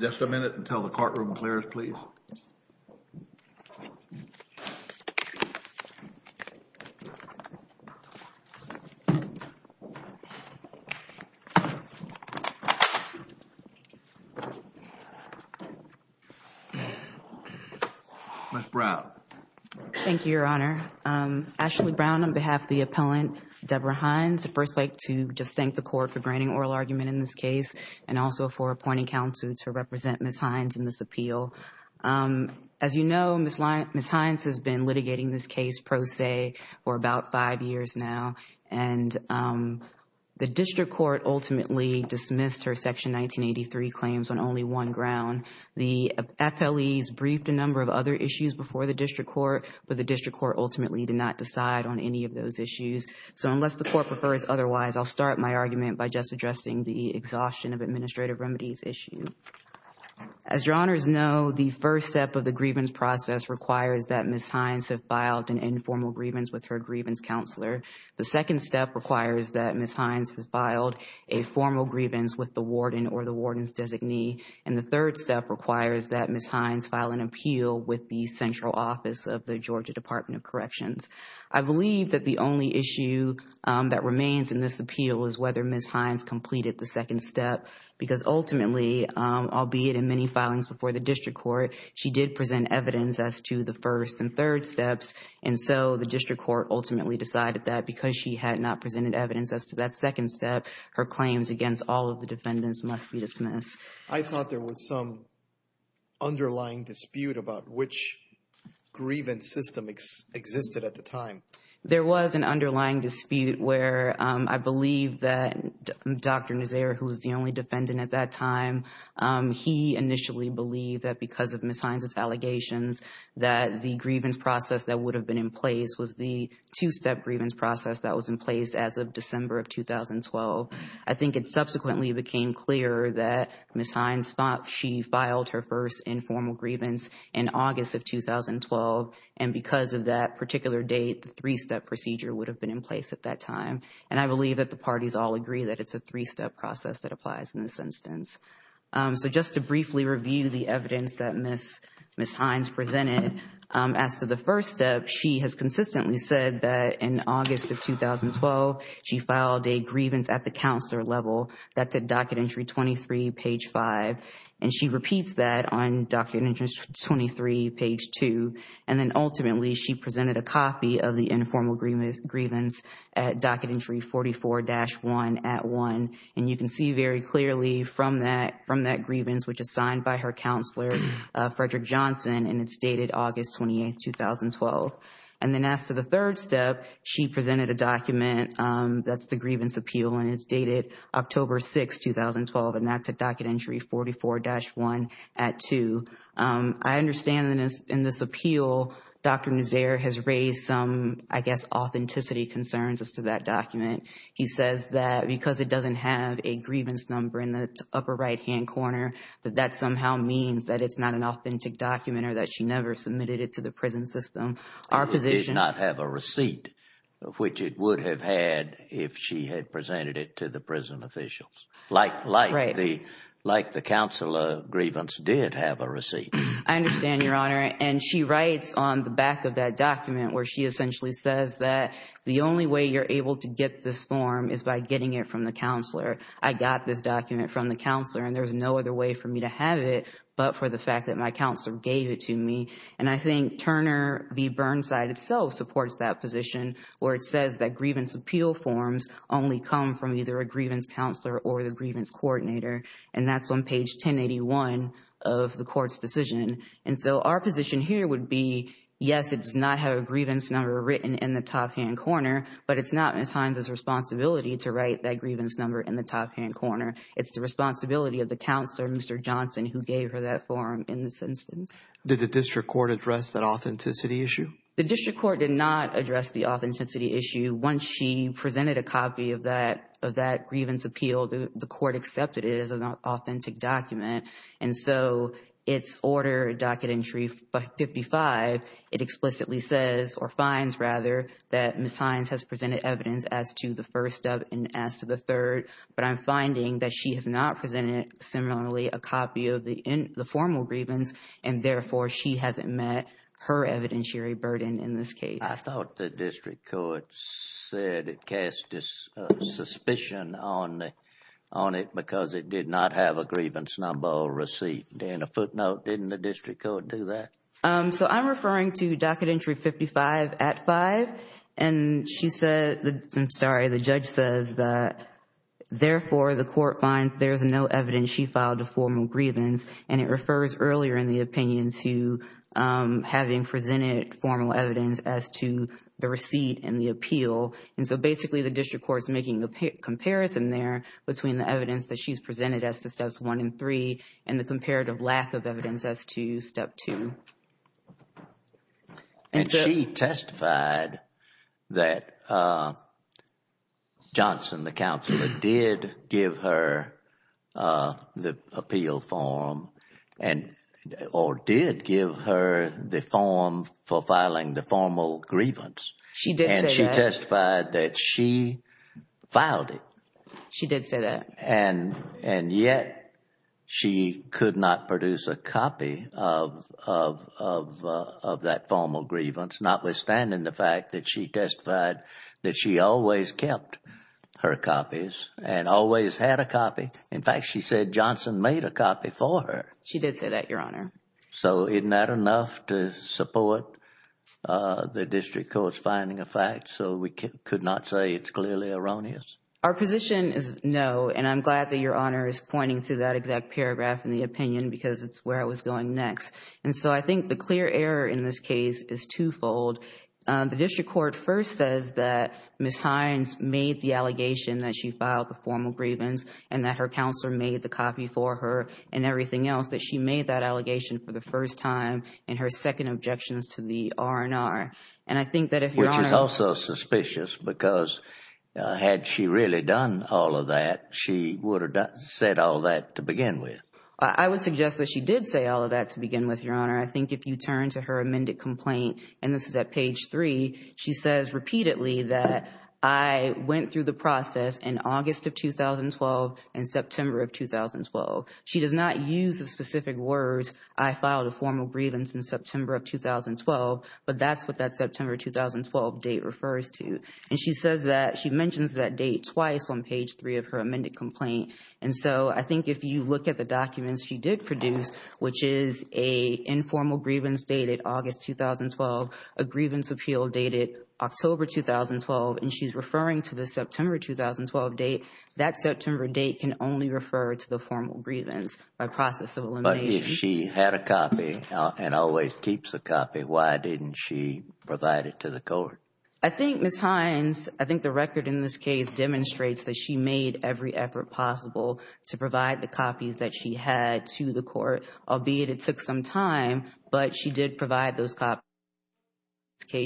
Just a minute until the courtroom clears, please. Ms. Brown Thank you, Your Honor. Ashley Brown on behalf of the appellant, Deborah Hines, I'd first like to just thank the court for granting oral argument in this case and also for appointing counsel to represent Ms. Hines' appeal. As you know, Ms. Hines has been litigating this case pro se for about five years now and the district court ultimately dismissed her Section 1983 claims on only one ground. The FLEs briefed a number of other issues before the district court, but the district court ultimately did not decide on any of those issues. So unless the court prefers otherwise, I'll start my argument by just addressing the exhaustion of administrative remedies issue. As Your Honors know, the first step of the grievance process requires that Ms. Hines have filed an informal grievance with her grievance counselor. The second step requires that Ms. Hines has filed a formal grievance with the warden or the warden's designee. And the third step requires that Ms. Hines file an appeal with the central office of the Georgia Department of Corrections. I believe that the only issue that remains in this appeal is whether Ms. Hines completed the second step, because ultimately, albeit in many filings before the district court, she did present evidence as to the first and third steps, and so the district court ultimately decided that because she had not presented evidence as to that second step, her claims against all of the defendants must be dismissed. I thought there was some underlying dispute about which grievance system existed at the time. There was an underlying dispute where I believe that Dr. Nazaire, who was the only defendant at that time, he initially believed that because of Ms. Hines' allegations that the grievance process that would have been in place was the two-step grievance process that was in place as of December of 2012. I think it subsequently became clear that Ms. Hines, she filed her first informal grievance in August of 2012, and because of that particular date, the three-step procedure would have been in place at that time, and I believe that the parties all agree that it's a three-step process that applies in this instance. So just to briefly review the evidence that Ms. Hines presented, as to the first step, she has consistently said that in August of 2012, she filed a grievance at the counselor level. That's at Docket Entry 23, page 5, and she repeats that on Docket Entry 23, page 2, and then ultimately, she presented a copy of the informal grievance at Docket Entry 44-1, at 1, and you can see very clearly from that grievance, which is signed by her counselor, Frederick Johnson, and it's dated August 28, 2012. And then as to the third step, she presented a document that's the grievance appeal, and it's dated October 6, 2012, and that's at Docket Entry 44-1, at 2. I understand in this appeal, Dr. Nazaire has raised some, I guess, authenticity concerns as to that document. He says that because it doesn't have a grievance number in the upper right-hand corner, that that somehow means that it's not an authentic document or that she never submitted it to the prison system. It did not have a receipt, which it would have had if she had presented it to the prison officials, like the counselor grievance did have a receipt. I understand, Your Honor, and she writes on the back of that document where she essentially says that the only way you're able to get this form is by getting it from the counselor. I got this document from the counselor and there's no other way for me to have it but for the fact that my counselor gave it to me. I think Turner v. Burnside itself supports that position where it says that grievance appeal forms only come from either a grievance counselor or the grievance coordinator, and that's on page 1081 of the court's decision. Our position here would be, yes, it does not have a grievance number written in the top-hand corner, but it's not Ms. Hines' responsibility to write that grievance number in the top-hand corner. It's the responsibility of the counselor, Mr. Johnson, who gave her that form in this instance. Did the district court address that authenticity issue? The district court did not address the authenticity issue. Once she presented a copy of that grievance appeal, the court accepted it as an authentic document, and so its order, Docket Entry 55, it explicitly says, or finds rather, that Ms. Hines has presented evidence as to the first of and as to the third, but I'm finding that she has not presented, similarly, a copy of the formal grievance, and therefore she hasn't met her evidentiary burden in this case. I thought the district court said it cast a suspicion on it because it did not have a grievance number or receipt. In a footnote, didn't the district court do that? I'm referring to Docket Entry 55 at 5, and she said, I'm sorry, the judge says that therefore the court finds there is no evidence she filed a formal grievance, and it refers earlier in the opinion to having presented formal evidence as to the receipt and the appeal, and so basically the district court is making the comparison there between the evidence that she's presented as to steps one and three and the comparative lack of evidence as to step two. And she testified that Johnson, the counselor, did give her the appeal form, or did give her the form for filing the formal grievance. She did say that. And she testified that she filed it. She did say that. And yet, she could not produce a copy of that formal grievance, notwithstanding the fact that she testified that she always kept her copies and always had a copy. In fact, she said Johnson made a copy for her. She did say that, Your Honor. So isn't that enough to support the district court's finding of facts? So we could not say it's clearly erroneous? Our position is no, and I'm glad that Your Honor is pointing to that exact paragraph in the opinion because it's where I was going next. And so I think the clear error in this case is twofold. The district court first says that Ms. Hines made the allegation that she filed the formal grievance and that her counselor made the copy for her and everything else, that she made that allegation for the first time, and her second objection is to the R&R. And I think that if Your Honor— Which is also suspicious because had she really done all of that, she would have said all that to begin with. I would suggest that she did say all of that to begin with, Your Honor. I think if you turn to her amended complaint, and this is at page three, she says repeatedly that I went through the process in August of 2012 and September of 2012. She does not use the specific words, I filed a formal grievance in September of 2012, but that's what that September 2012 date refers to. And she says that, she mentions that date twice on page three of her amended complaint. And so I think if you look at the documents she did produce, which is an informal grievance dated August 2012, a grievance appeal dated October 2012, and she's referring to the September 2012 date, that September date can only refer to the formal grievance by process of elimination. But if she had a copy and always keeps a copy, why didn't she provide it to the court? I think Ms. Hines, I think the record in this case demonstrates that she made every effort possible to provide the copies that she had to the court, albeit it took some time. But she did provide those copies.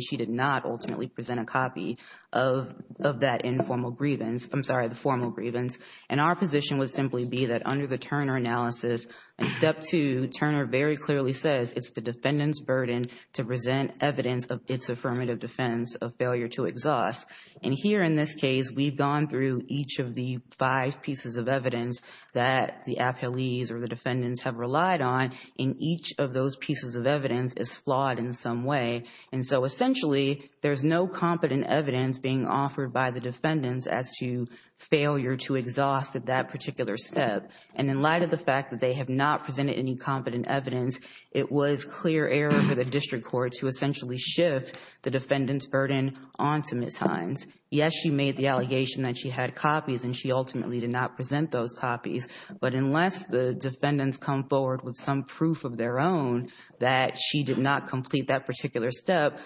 She did not ultimately present a copy of that informal grievance, I'm sorry, the formal grievance. And our position would simply be that under the Turner analysis, in step two, Turner very clearly says it's the defendant's burden to present evidence of its affirmative defense of failure to exhaust. And here in this case, we've gone through each of the five pieces of evidence that the appellees or the defendants have relied on, and each of those pieces of evidence is flawed in some way. And so essentially, there's no competent evidence being offered by the defendants as to failure to exhaust at that particular step. And in light of the fact that they have not presented any competent evidence, it was clear error for the district court to essentially shift the defendant's burden onto Ms. Hines. Yes, she made the allegation that she had copies and she ultimately did not present those copies. But unless the defendants come forward with some proof of their own that she did not complete that particular step,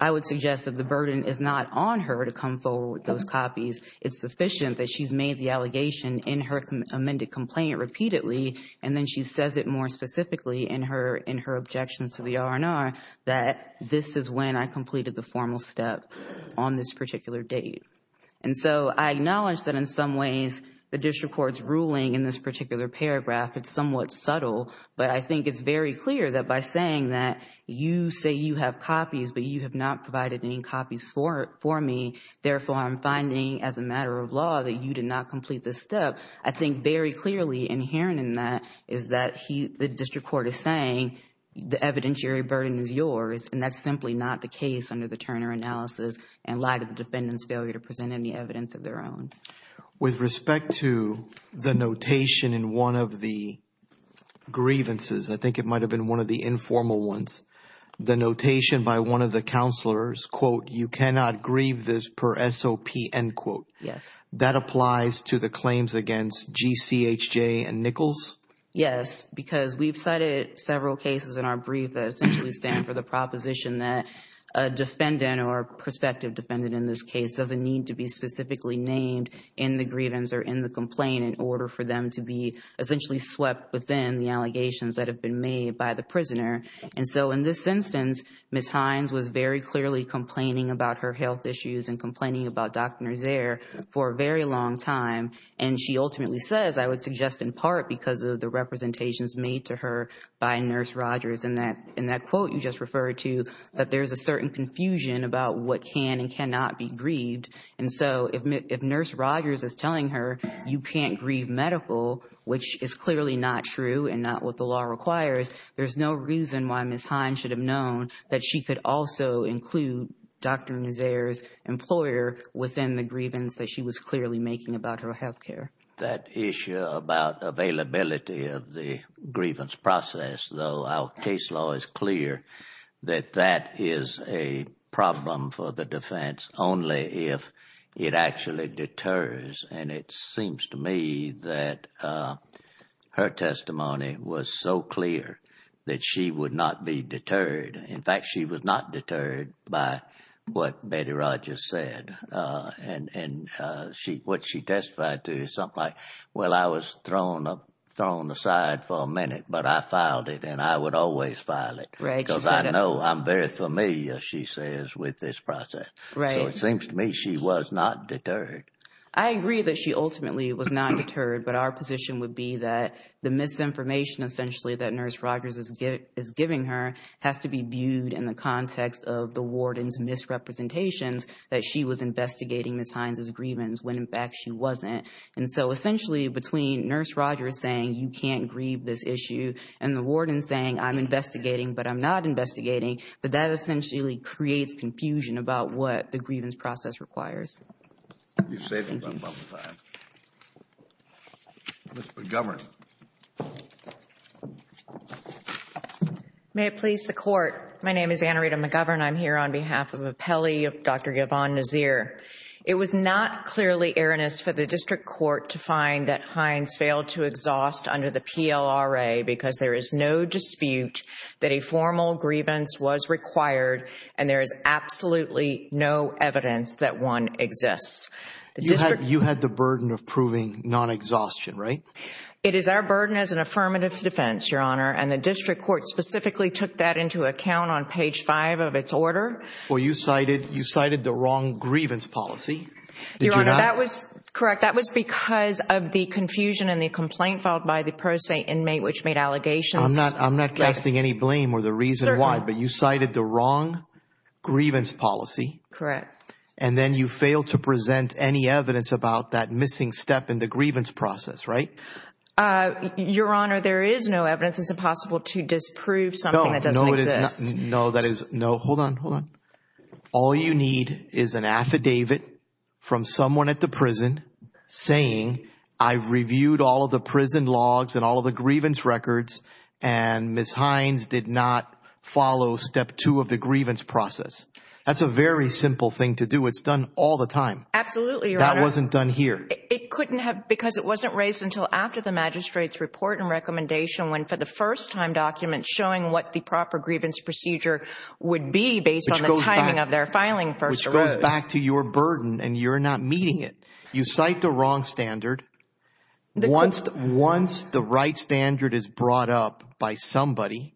I would suggest that the burden is not on her to come forward with those copies. It's sufficient that she's made the allegation in her amended complaint repeatedly, and then she says it more specifically in her objections to the R&R that this is when I completed the formal step on this particular date. And so I acknowledge that in some ways, the district court's ruling in this particular paragraph, it's somewhat subtle, but I think it's very clear that by saying that you say you have copies, but you have not provided any copies for me, therefore, I'm finding as a matter of law that you did not complete this step. I think very clearly inherent in that is that the district court is saying the evidentiary burden is yours, and that's simply not the case under the Turner analysis in light of the defendant's failure to present any evidence of their own. With respect to the notation in one of the grievances, I think it might have been one of the informal ones, the notation by one of the counselors, quote, you cannot grieve this per SOP, end quote. That applies to the claims against GCHJ and Nichols? Yes, because we've cited several cases in our brief that essentially stand for the proposition that a defendant or a prospective defendant in this case doesn't need to be specifically named in the grievance or in the complaint in order for them to be essentially swept within the allegations that have been made by the prisoner. And so in this instance, Ms. Hines was very clearly complaining about her health issues and complaining about Dr. Nazaire for a very long time, and she ultimately says, I would suggest in part because of the representations made to her by Nurse Rogers in that quote you just referred to, that there's a certain confusion about what can and cannot be grieved. And so if Nurse Rogers is telling her you can't grieve medical, which is clearly not true and not what the law requires, there's no reason why Ms. Hines should have known that she could also include Dr. Nazaire's employer within the grievance that she was clearly making about her health care. That issue about availability of the grievance process, though our case law is clear that that is a problem for the defense only if it actually deters. And it seems to me that her testimony was so clear that she would not be deterred. In fact, she was not deterred by what Betty Rogers said. And what she testified to is something like, well, I was thrown aside for a minute, but I filed it and I would always file it because I know I'm very familiar, she says, with this process. So it seems to me she was not deterred. I agree that she ultimately was not deterred, but our position would be that the misinformation essentially that Nurse Rogers is giving her has to be viewed in the context of the warden's misrepresentations that she was investigating Ms. Hines' grievance when in fact she wasn't. And so essentially between Nurse Rogers saying you can't grieve this issue and the warden saying I'm investigating, but I'm not investigating, that that essentially creates confusion about what the grievance process requires. Thank you. Thank you. Ms. McGovern. May it please the Court. My name is Anna Rita McGovern. I'm here on behalf of Appelli of Dr. Yvonne Nazir. It was not clearly erroneous for the district court to find that Hines failed to exhaust under the PLRA because there is no dispute that a formal grievance was required and there is absolutely no evidence that one exists. You had the burden of proving non-exhaustion, right? It is our burden as an affirmative defense, Your Honor, and the district court specifically took that into account on page five of its order. Well, you cited the wrong grievance policy. Your Honor, that was correct. That was because of the confusion in the complaint filed by the pro se inmate which made allegations. I'm not casting any blame or the reason why, but you cited the wrong grievance policy. Correct. And then you failed to present any evidence about that missing step in the grievance process, right? Your Honor, there is no evidence. It's impossible to disprove something that doesn't exist. No, that is no. Hold on. Hold on. All you need is an affidavit from someone at the prison saying, I've reviewed all of the prison logs and all of the grievance records and Ms. Hines did not follow step two of the grievance process. That's a very simple thing to do. It's done all the time. Absolutely, Your Honor. That wasn't done here. It couldn't have, because it wasn't raised until after the magistrate's report and recommendation when for the first time documents showing what the proper grievance procedure would be based on the timing of their filing first. Which goes back to your burden and you're not meeting it. You cite the wrong standard. Once the right standard is brought up by somebody,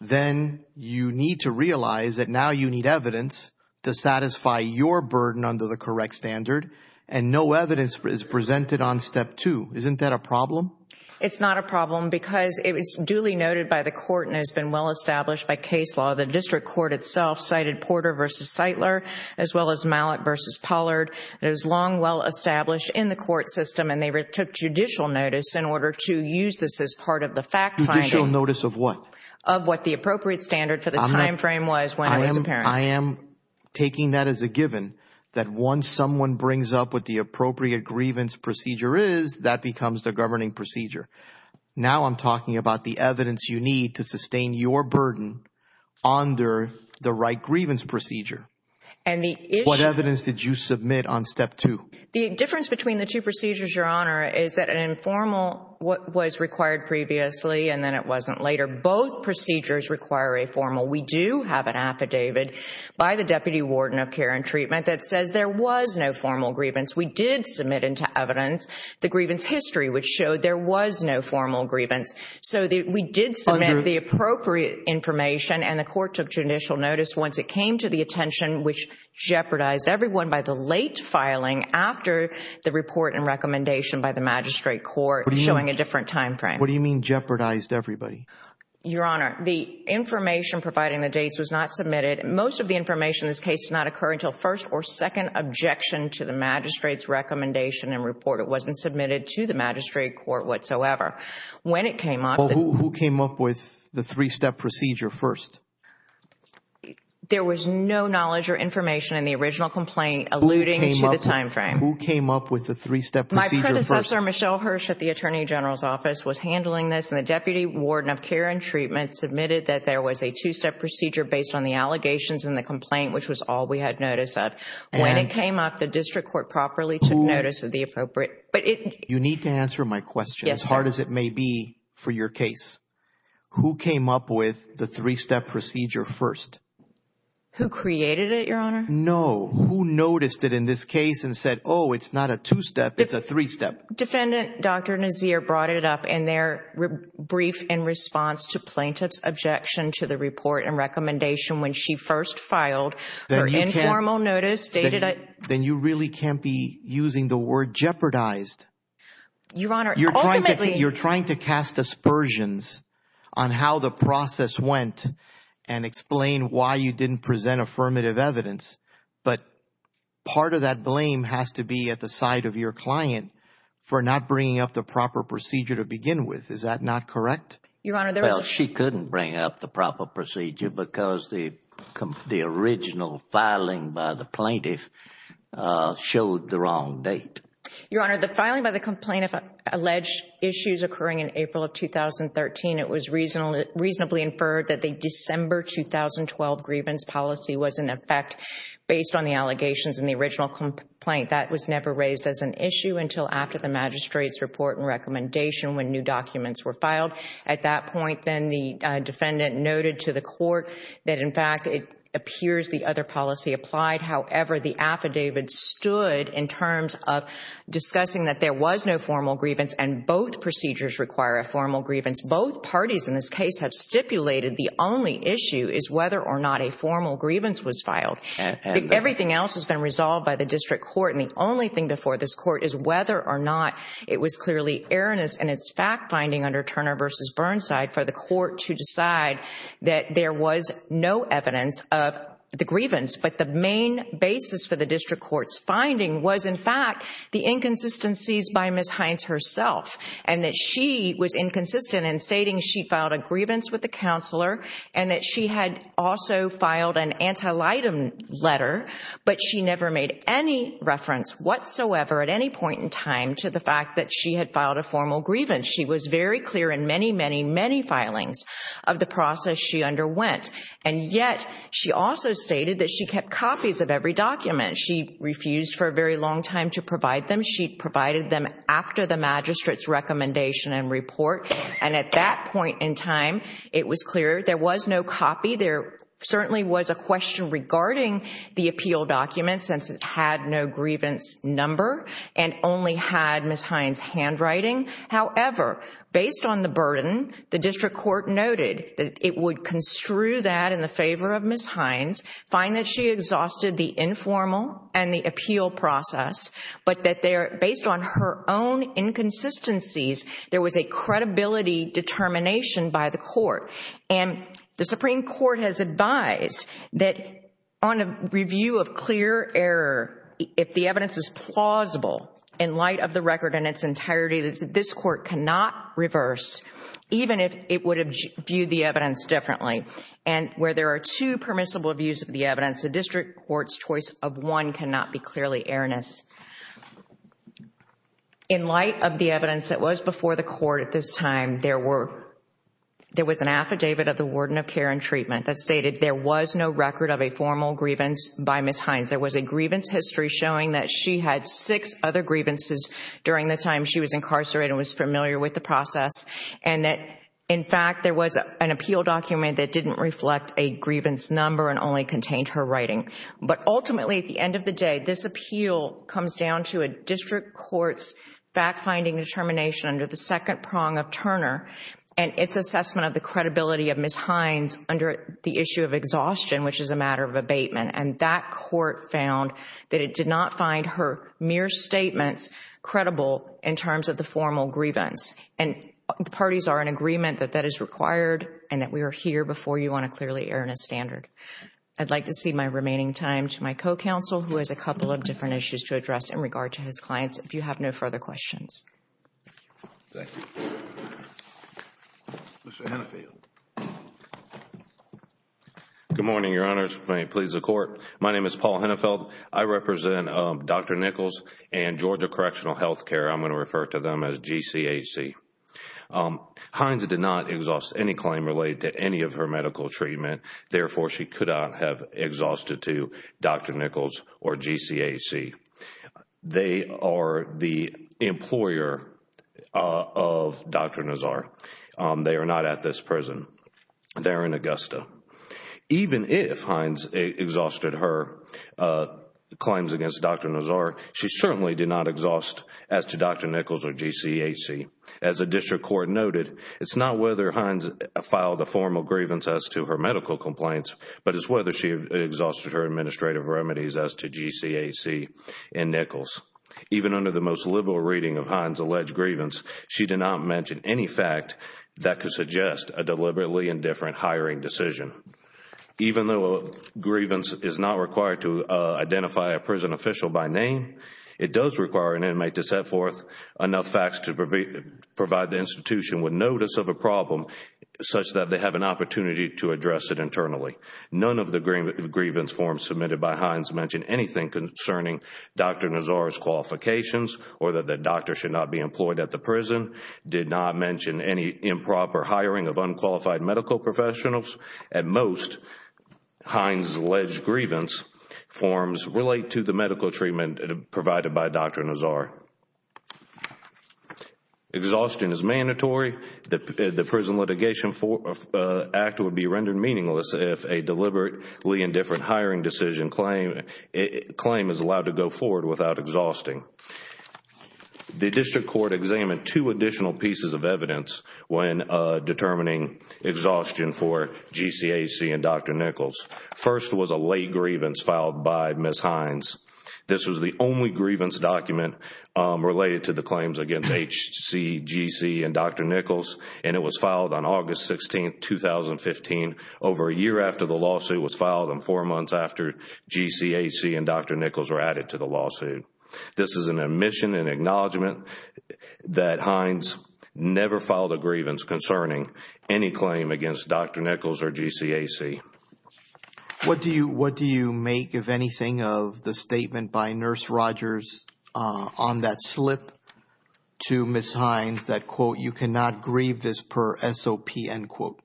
then you need to realize that now you need evidence to satisfy your burden under the correct standard and no evidence is presented on step two. Isn't that a problem? It's not a problem because it was duly noted by the court and has been well established by case law. The district court itself cited Porter v. Seitler as well as Malik v. Pollard. It was long well established in the court system and they took judicial notice in order to use this as part of the fact finding. Judicial notice of what? Of what the appropriate standard for the time frame was when it was apparent. I am taking that as a given. That once someone brings up what the appropriate grievance procedure is, that becomes the governing procedure. Now I'm talking about the evidence you need to sustain your burden under the right grievance procedure. What evidence did you submit on step two? The difference between the two procedures, Your Honor, is that an informal was required previously and then it wasn't later. Both procedures require a formal. We do have an affidavit by the Deputy Warden of Care and Treatment that says there was no formal grievance. We did submit into evidence the grievance history which showed there was no formal grievance. So we did submit the appropriate information and the court took judicial notice once it came to the attention which jeopardized everyone by the late filing after the report and recommendation by the magistrate court showing a different time frame. What do you mean jeopardized everybody? Your Honor, the information providing the dates was not submitted. Most of the information in this case did not occur until first or second objection to the magistrate's recommendation and report. It wasn't submitted to the magistrate court whatsoever. When it came up... Who came up with the three-step procedure first? There was no knowledge or information in the original complaint alluding to the time frame. Who came up with the three-step procedure first? My predecessor, Michelle Hirsch, at the Attorney General's Office was handling this and the Department of Care and Treatment submitted that there was a two-step procedure based on the allegations in the complaint which was all we had notice of. When it came up, the district court properly took notice of the appropriate... You need to answer my question as hard as it may be for your case. Who came up with the three-step procedure first? Who created it, Your Honor? No. Who noticed it in this case and said, oh, it's not a two-step, it's a three-step? Defendant Dr. Nazir brought it up in their brief in response to plaintiff's objection to the report and recommendation when she first filed an informal notice dated... Then you really can't be using the word jeopardized. Your Honor, ultimately... You're trying to cast aspersions on how the process went and explain why you didn't present affirmative evidence, but part of that blame has to be at the side of your client for not bringing up the proper procedure to begin with. Is that not correct? Your Honor, there was... Well, she couldn't bring up the proper procedure because the original filing by the plaintiff showed the wrong date. Your Honor, the filing by the complainant alleged issues occurring in April of 2013, it was reasonably inferred that the December 2012 grievance policy was in effect based on the allegations in the original complaint. That was never raised as an issue until after the magistrate's report and recommendation when new documents were filed. At that point, then the defendant noted to the court that, in fact, it appears the other policy applied. However, the affidavit stood in terms of discussing that there was no formal grievance and both procedures require a formal grievance. Both parties in this case have stipulated the only issue is whether or not a formal grievance was filed. Everything else has been resolved by the district court and the only thing before this court is whether or not it was clearly erroneous in its fact-finding under Turner v. Burnside for the court to decide that there was no evidence of the grievance, but the main basis for the district court's finding was, in fact, the inconsistencies by Ms. Hines herself and that she was inconsistent in stating she filed a grievance with the counselor and that she had also filed an antelitum letter, but she never made any reference whatsoever at any point in time to the fact that she had filed a formal grievance. She was very clear in many, many, many filings of the process she underwent, and yet she also stated that she kept copies of every document. She refused for a very long time to provide them. She provided them after the magistrate's recommendation and report, and at that point in time, it was clear there was no copy. There certainly was a question regarding the appeal document since it had no grievance number and only had Ms. Hines' handwriting. However, based on the burden, the district court noted that it would construe that in the favor of Ms. Hines, find that she exhausted the informal and the appeal process, but that based on her own inconsistencies, there was a credibility determination by the court. The Supreme Court has advised that on a review of clear error, if the evidence is plausible in light of the record in its entirety, that this court cannot reverse even if it would have viewed the evidence differently. Where there are two permissible views of the evidence, the district court's choice of one cannot be clearly erroneous. In light of the evidence that was before the court at this time, there was an affidavit of the warden of care and treatment that stated there was no record of a formal grievance by Ms. Hines. There was a grievance history showing that she had six other grievances during the time she was incarcerated and was familiar with the process, and that in fact, there was an appeal document that didn't reflect a grievance number and only contained her writing. But ultimately, at the end of the day, this appeal comes down to a district court's fact-finding determination under the second prong of Turner and its assessment of the credibility of Ms. Hines under the issue of exhaustion, which is a matter of abatement. And that court found that it did not find her mere statements credible in terms of the formal grievance. And the parties are in agreement that that is required and that we are here before you on a clearly erroneous standard. I would like to cede my remaining time to my co-counsel, who has a couple of different issues to address in regard to his clients, if you have no further questions. Thank you. Mr. Hennefeld. Good morning, Your Honors. May it please the Court. My name is Paul Hennefeld. I represent Dr. Nichols and Georgia Correctional Health Care. I am going to refer to them as GCHC. Hines did not exhaust any claim related to any of her medical treatment. Therefore, she could not have exhausted to Dr. Nichols or GCHC. They are the employer of Dr. Nazar. They are not at this prison. They are in Augusta. Even if Hines exhausted her claims against Dr. Nazar, she certainly did not exhaust as to Dr. Nichols or GCHC. As the District Court noted, it is not whether Hines filed a formal grievance as to her medical complaints, but it is whether she exhausted her administrative remedies as to GCHC and Nichols. Even under the most liberal reading of Hines' alleged grievance, she did not mention any fact that could suggest a deliberately indifferent hiring decision. Even though grievance is not required to identify a prison official by name, it does require an inmate to set forth enough facts to provide the institution with notice of a problem such that they have an opportunity to address it internally. None of the grievance forms submitted by Hines mention anything concerning Dr. Nazar's qualifications or that the doctor should not be employed at the prison. They did not mention any improper hiring of unqualified medical professionals. At most, Hines' alleged grievance forms relate to the medical treatment provided by Dr. Nazar. Exhaustion is mandatory. The Prison Litigation Act would be rendered meaningless if a deliberately indifferent hiring decision claim is allowed to go forward without exhausting. The District Court examined two additional pieces of evidence when determining exhaustion for GCHC and Dr. Nichols. First was a late grievance filed by Ms. Hines. This was the only grievance document related to the claims against HCHC and Dr. Nichols and it was filed on August 16, 2015, over a year after the lawsuit was filed and four months after GCHC and Dr. Nichols were added to the lawsuit. This is an admission and acknowledgement that Hines never filed a grievance concerning any claim against Dr. Nichols or GCHC. What do you make, if anything, of the statement by Nurse Rogers on that slip to Ms. Hines that, quote, you cannot grieve this per SOP, end quote?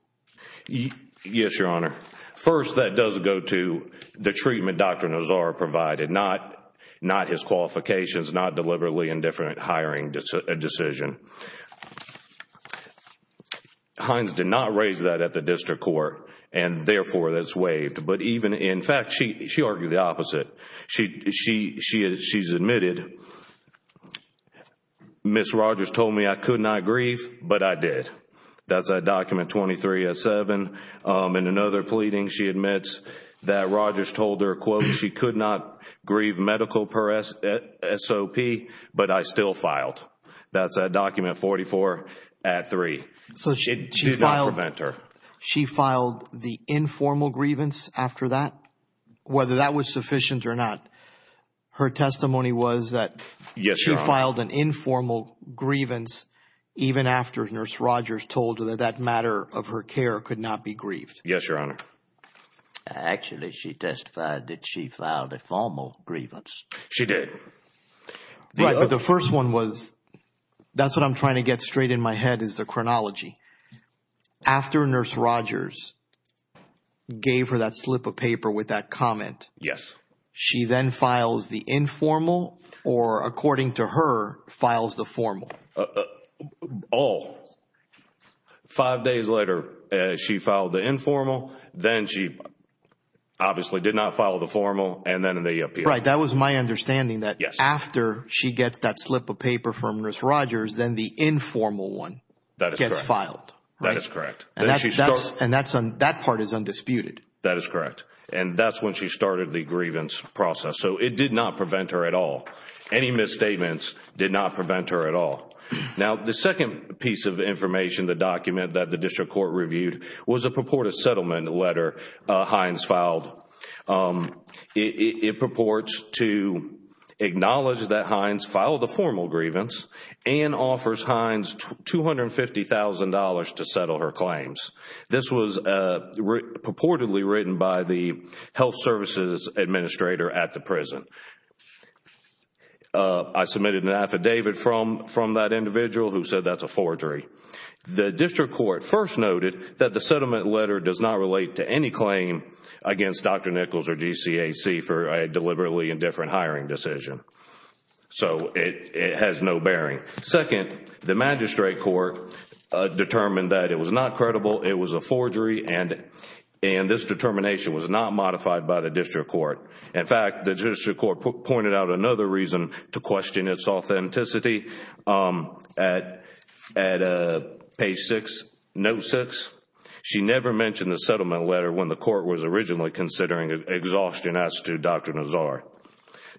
Yes, Your Honor. First, that does go to the treatment Dr. Nazar provided, not his qualifications, not deliberately indifferent hiring decision. Hines did not raise that at the District Court and, therefore, that is waived. In fact, she argued the opposite. She has admitted, Ms. Rogers told me I could not grieve, but I did. That is at document 23 at 7. In another pleading, she admits that Rogers told her, quote, she could not grieve medical per SOP, but I still filed. That is at document 44 at 3. It did not prevent her. So she filed the informal grievance after that? Whether that was sufficient or not, her testimony was that she filed an informal grievance even after Nurse Rogers told her that that matter of her care could not be grieved? Yes, Your Honor. Actually, she testified that she filed a formal grievance. She did. Right, but the first one was, that is what I am trying to get straight in my head is the chronology. After Nurse Rogers gave her that slip of paper with that comment, she then files the informal or, according to her, files the formal? All. Five days later, she filed the informal, then she obviously did not file the formal, and then the APL. Right. That was my understanding that after she gets that slip of paper from Nurse Rogers, then the informal one gets filed. That is correct. And that part is undisputed. That is correct. And that is when she started the grievance process. So it did not prevent her at all. Any misstatements did not prevent her at all. Now, the second piece of information, the document that the district court reviewed was a purported settlement letter Hines filed. It purports to acknowledge that Hines filed a formal grievance and offers Hines $250,000 to settle her claims. This was purportedly written by the health services administrator at the prison. I submitted an affidavit from that individual who said that is a forgery. The district court first noted that the settlement letter does not relate to any claim against Dr. Nichols or GCAC for a deliberately indifferent hiring decision. So it has no bearing. Second, the magistrate court determined that it was not credible, it was a forgery, and this determination was not modified by the district court. In fact, the district court pointed out another reason to question its authenticity at page 6, note 6. She never mentioned the settlement letter when the court was originally considering exhaustion as to Dr. Nazar.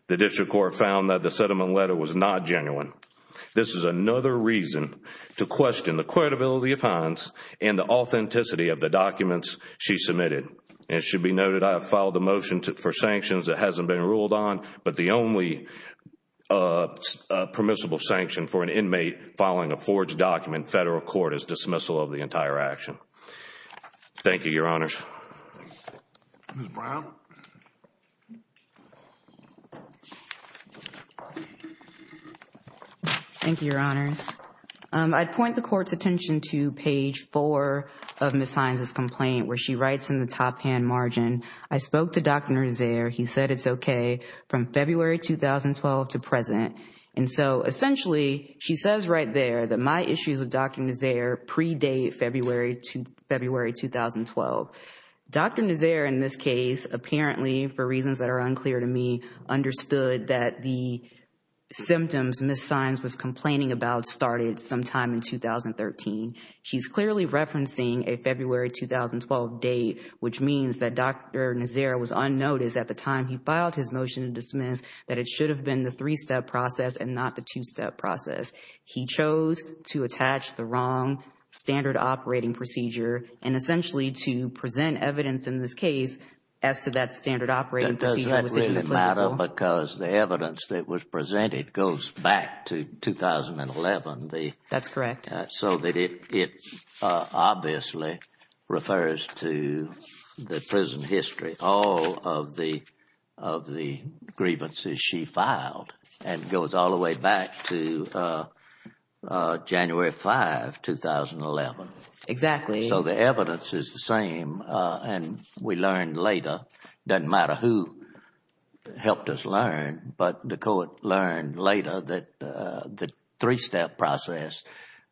The district court found that the settlement letter was not genuine. This is another reason to question the credibility of Hines and the authenticity of the documents she submitted. It should be noted I have filed a motion for sanctions that hasn't been ruled on, but the only permissible sanction for an inmate filing a forged document in federal court is dismissal of the entire action. Thank you, Your Honors. Ms. Brown? Thank you, Your Honors. I'd point the court's attention to page 4 of Ms. Hines' complaint where she writes in the top-hand margin, I spoke to Dr. Nazar. He said it's okay from February 2012 to present. And so essentially, she says right there that my issues with Dr. Nazar predate February 2012. Dr. Nazar, in this case, apparently, for reasons that are unclear to me, understood that the symptoms Ms. Hines was complaining about started sometime in 2013. She's clearly referencing a February 2012 date, which means that Dr. Nazar was unnoticed at the time he filed his motion to dismiss that it should have been the three-step process and not the two-step process. He chose to attach the wrong standard operating procedure and essentially to present evidence in this case as to that standard operating procedure. Does that really matter? Because the evidence that was presented goes back to 2011. That's correct. So that it obviously refers to the prison history, all of the grievances she filed and goes all the way back to January 5, 2011. Exactly. So the evidence is the same and we learned later, doesn't matter who helped us learn, but the court learned later that the three-step process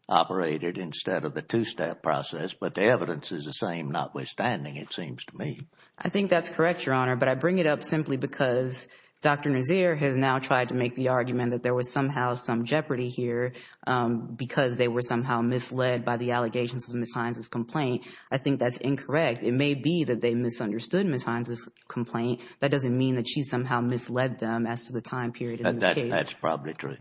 operated instead of the two-step process. But the evidence is the same notwithstanding, it seems to me. I think that's correct, Your Honor. But I bring it up simply because Dr. Nazar has now tried to make the argument that there was somehow some jeopardy here because they were somehow misled by the allegations of Ms. Hines' complaint. I think that's incorrect. It may be that they misunderstood Ms. Hines' complaint. That doesn't mean that she somehow misled them as to the time period in this case. That's probably true.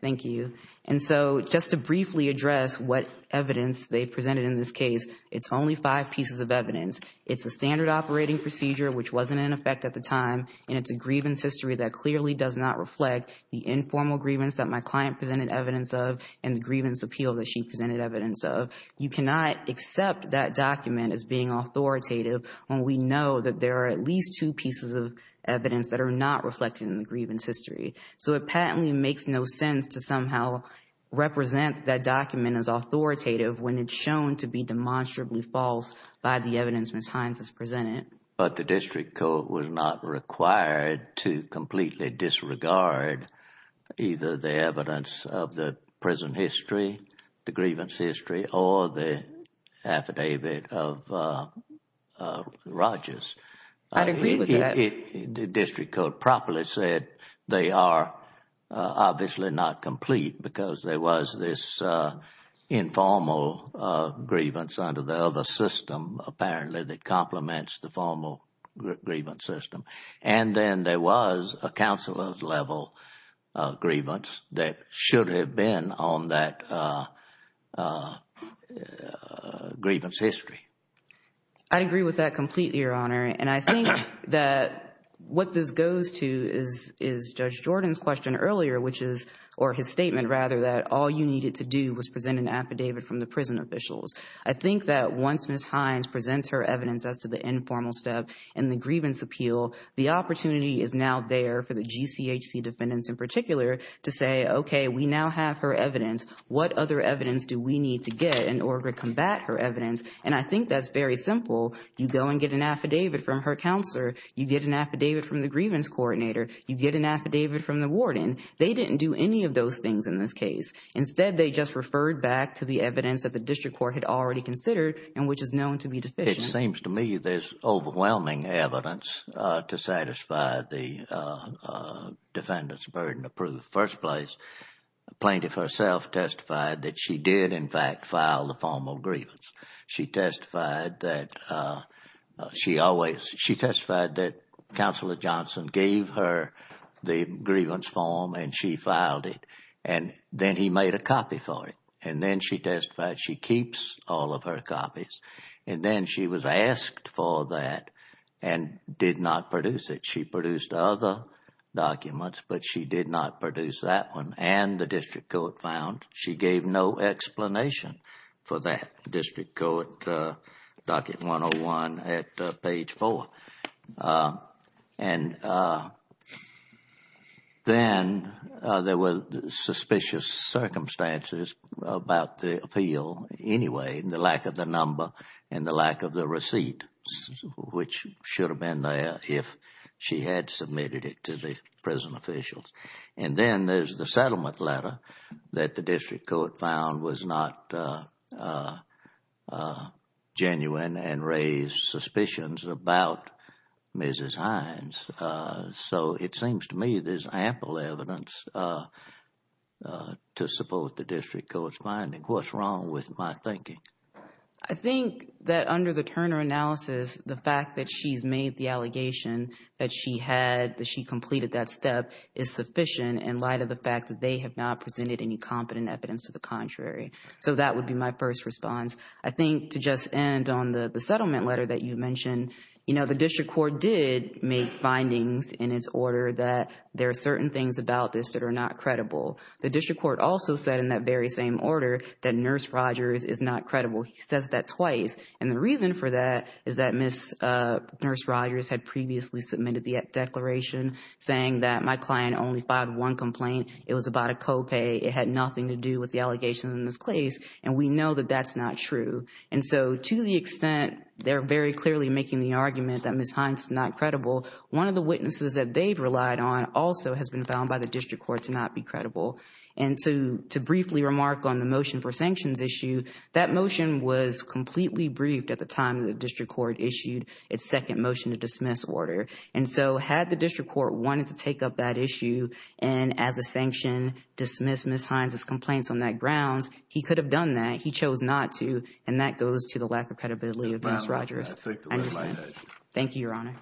Thank you. And so just to briefly address what evidence they presented in this case, it's only five pieces of evidence. It's a standard operating procedure which wasn't in effect at the time and it's a grievance history that clearly does not reflect the informal grievance that my client presented evidence of and the grievance appeal that she presented evidence of. You cannot accept that document as being authoritative when we know that there are at least two pieces of evidence that are not reflected in the grievance history. So it patently makes no sense to somehow represent that document as authoritative when it's shown to be demonstrably false by the evidence Ms. Hines has presented. But the district court was not required to completely disregard either the evidence of the prison history, the grievance history, or the affidavit of Rogers. I agree with that. The district court properly said they are obviously not complete because there was this informal grievance under the other system apparently that complements the formal grievance system. And then there was a counselor's level of grievance that should have been on that grievance history. I agree with that completely, Your Honor. And I think that what this goes to is Judge Jordan's question earlier, which is, or his statement rather, that all you needed to do was present an affidavit from the prison officials. I think that once Ms. Hines presents her evidence as to the informal step and the grievance appeal, the opportunity is now there for the GCHC defendants in particular to say, okay, we now have her evidence. What other evidence do we need to get in order to combat her evidence? And I think that's very simple. You go and get an affidavit from her counselor. You get an affidavit from the grievance coordinator. You get an affidavit from the warden. They didn't do any of those things in this case. Instead, they just referred back to the evidence that the district court had already considered and which is known to be deficient. It seems to me there's overwhelming evidence to satisfy the defendant's burden of proof. First place, Plaintiff herself testified that she did in fact file the formal grievance. She testified that she always, she testified that Counselor Johnson gave her the grievance form and she filed it. And then he made a copy for it. And then she testified she keeps all of her copies. And then she was asked for that and did not produce it. She produced other documents, but she did not produce that one. And the district court found she gave no explanation for that. District court, docket 101 at page 4. And then there were suspicious circumstances about the appeal anyway, the lack of the number and the lack of the receipt, which should have been there if she had submitted it to the prison officials. And then there's the settlement letter that the district court found was not genuine and raised suspicions about Mrs. Hines. So it seems to me there's ample evidence to support the district court's finding. What's wrong with my thinking? I think that under the Turner analysis, the fact that she's made the allegation that she had, that she completed that step is sufficient in light of the fact that they have not presented any competent evidence to the contrary. So that would be my first response. I think to just end on the settlement letter that you mentioned, you know, the district court did make findings in its order that there are certain things about this that are not credible. The district court also said in that very same order that Nurse Rogers is not credible. He says that twice. And the reason for that is that Nurse Rogers had previously submitted the declaration saying that my client only filed one complaint. It was about a copay. It had nothing to do with the allegation in this case. And we know that that's not true. And so to the extent they're very clearly making the argument that Mrs. Hines is not credible, one of the witnesses that they've relied on also has been found by the district court to not be credible. And to briefly remark on the motion for sanctions issue, that motion was completely briefed at the time that the district court issued its second motion to dismiss order. And so had the district court wanted to take up that issue and, as a sanction, dismiss Mrs. Hines' complaints on that grounds, he could have done that. He chose not to, and that goes to the lack of credibility of Nurse Rogers. I understand. Thank you, Your Honor.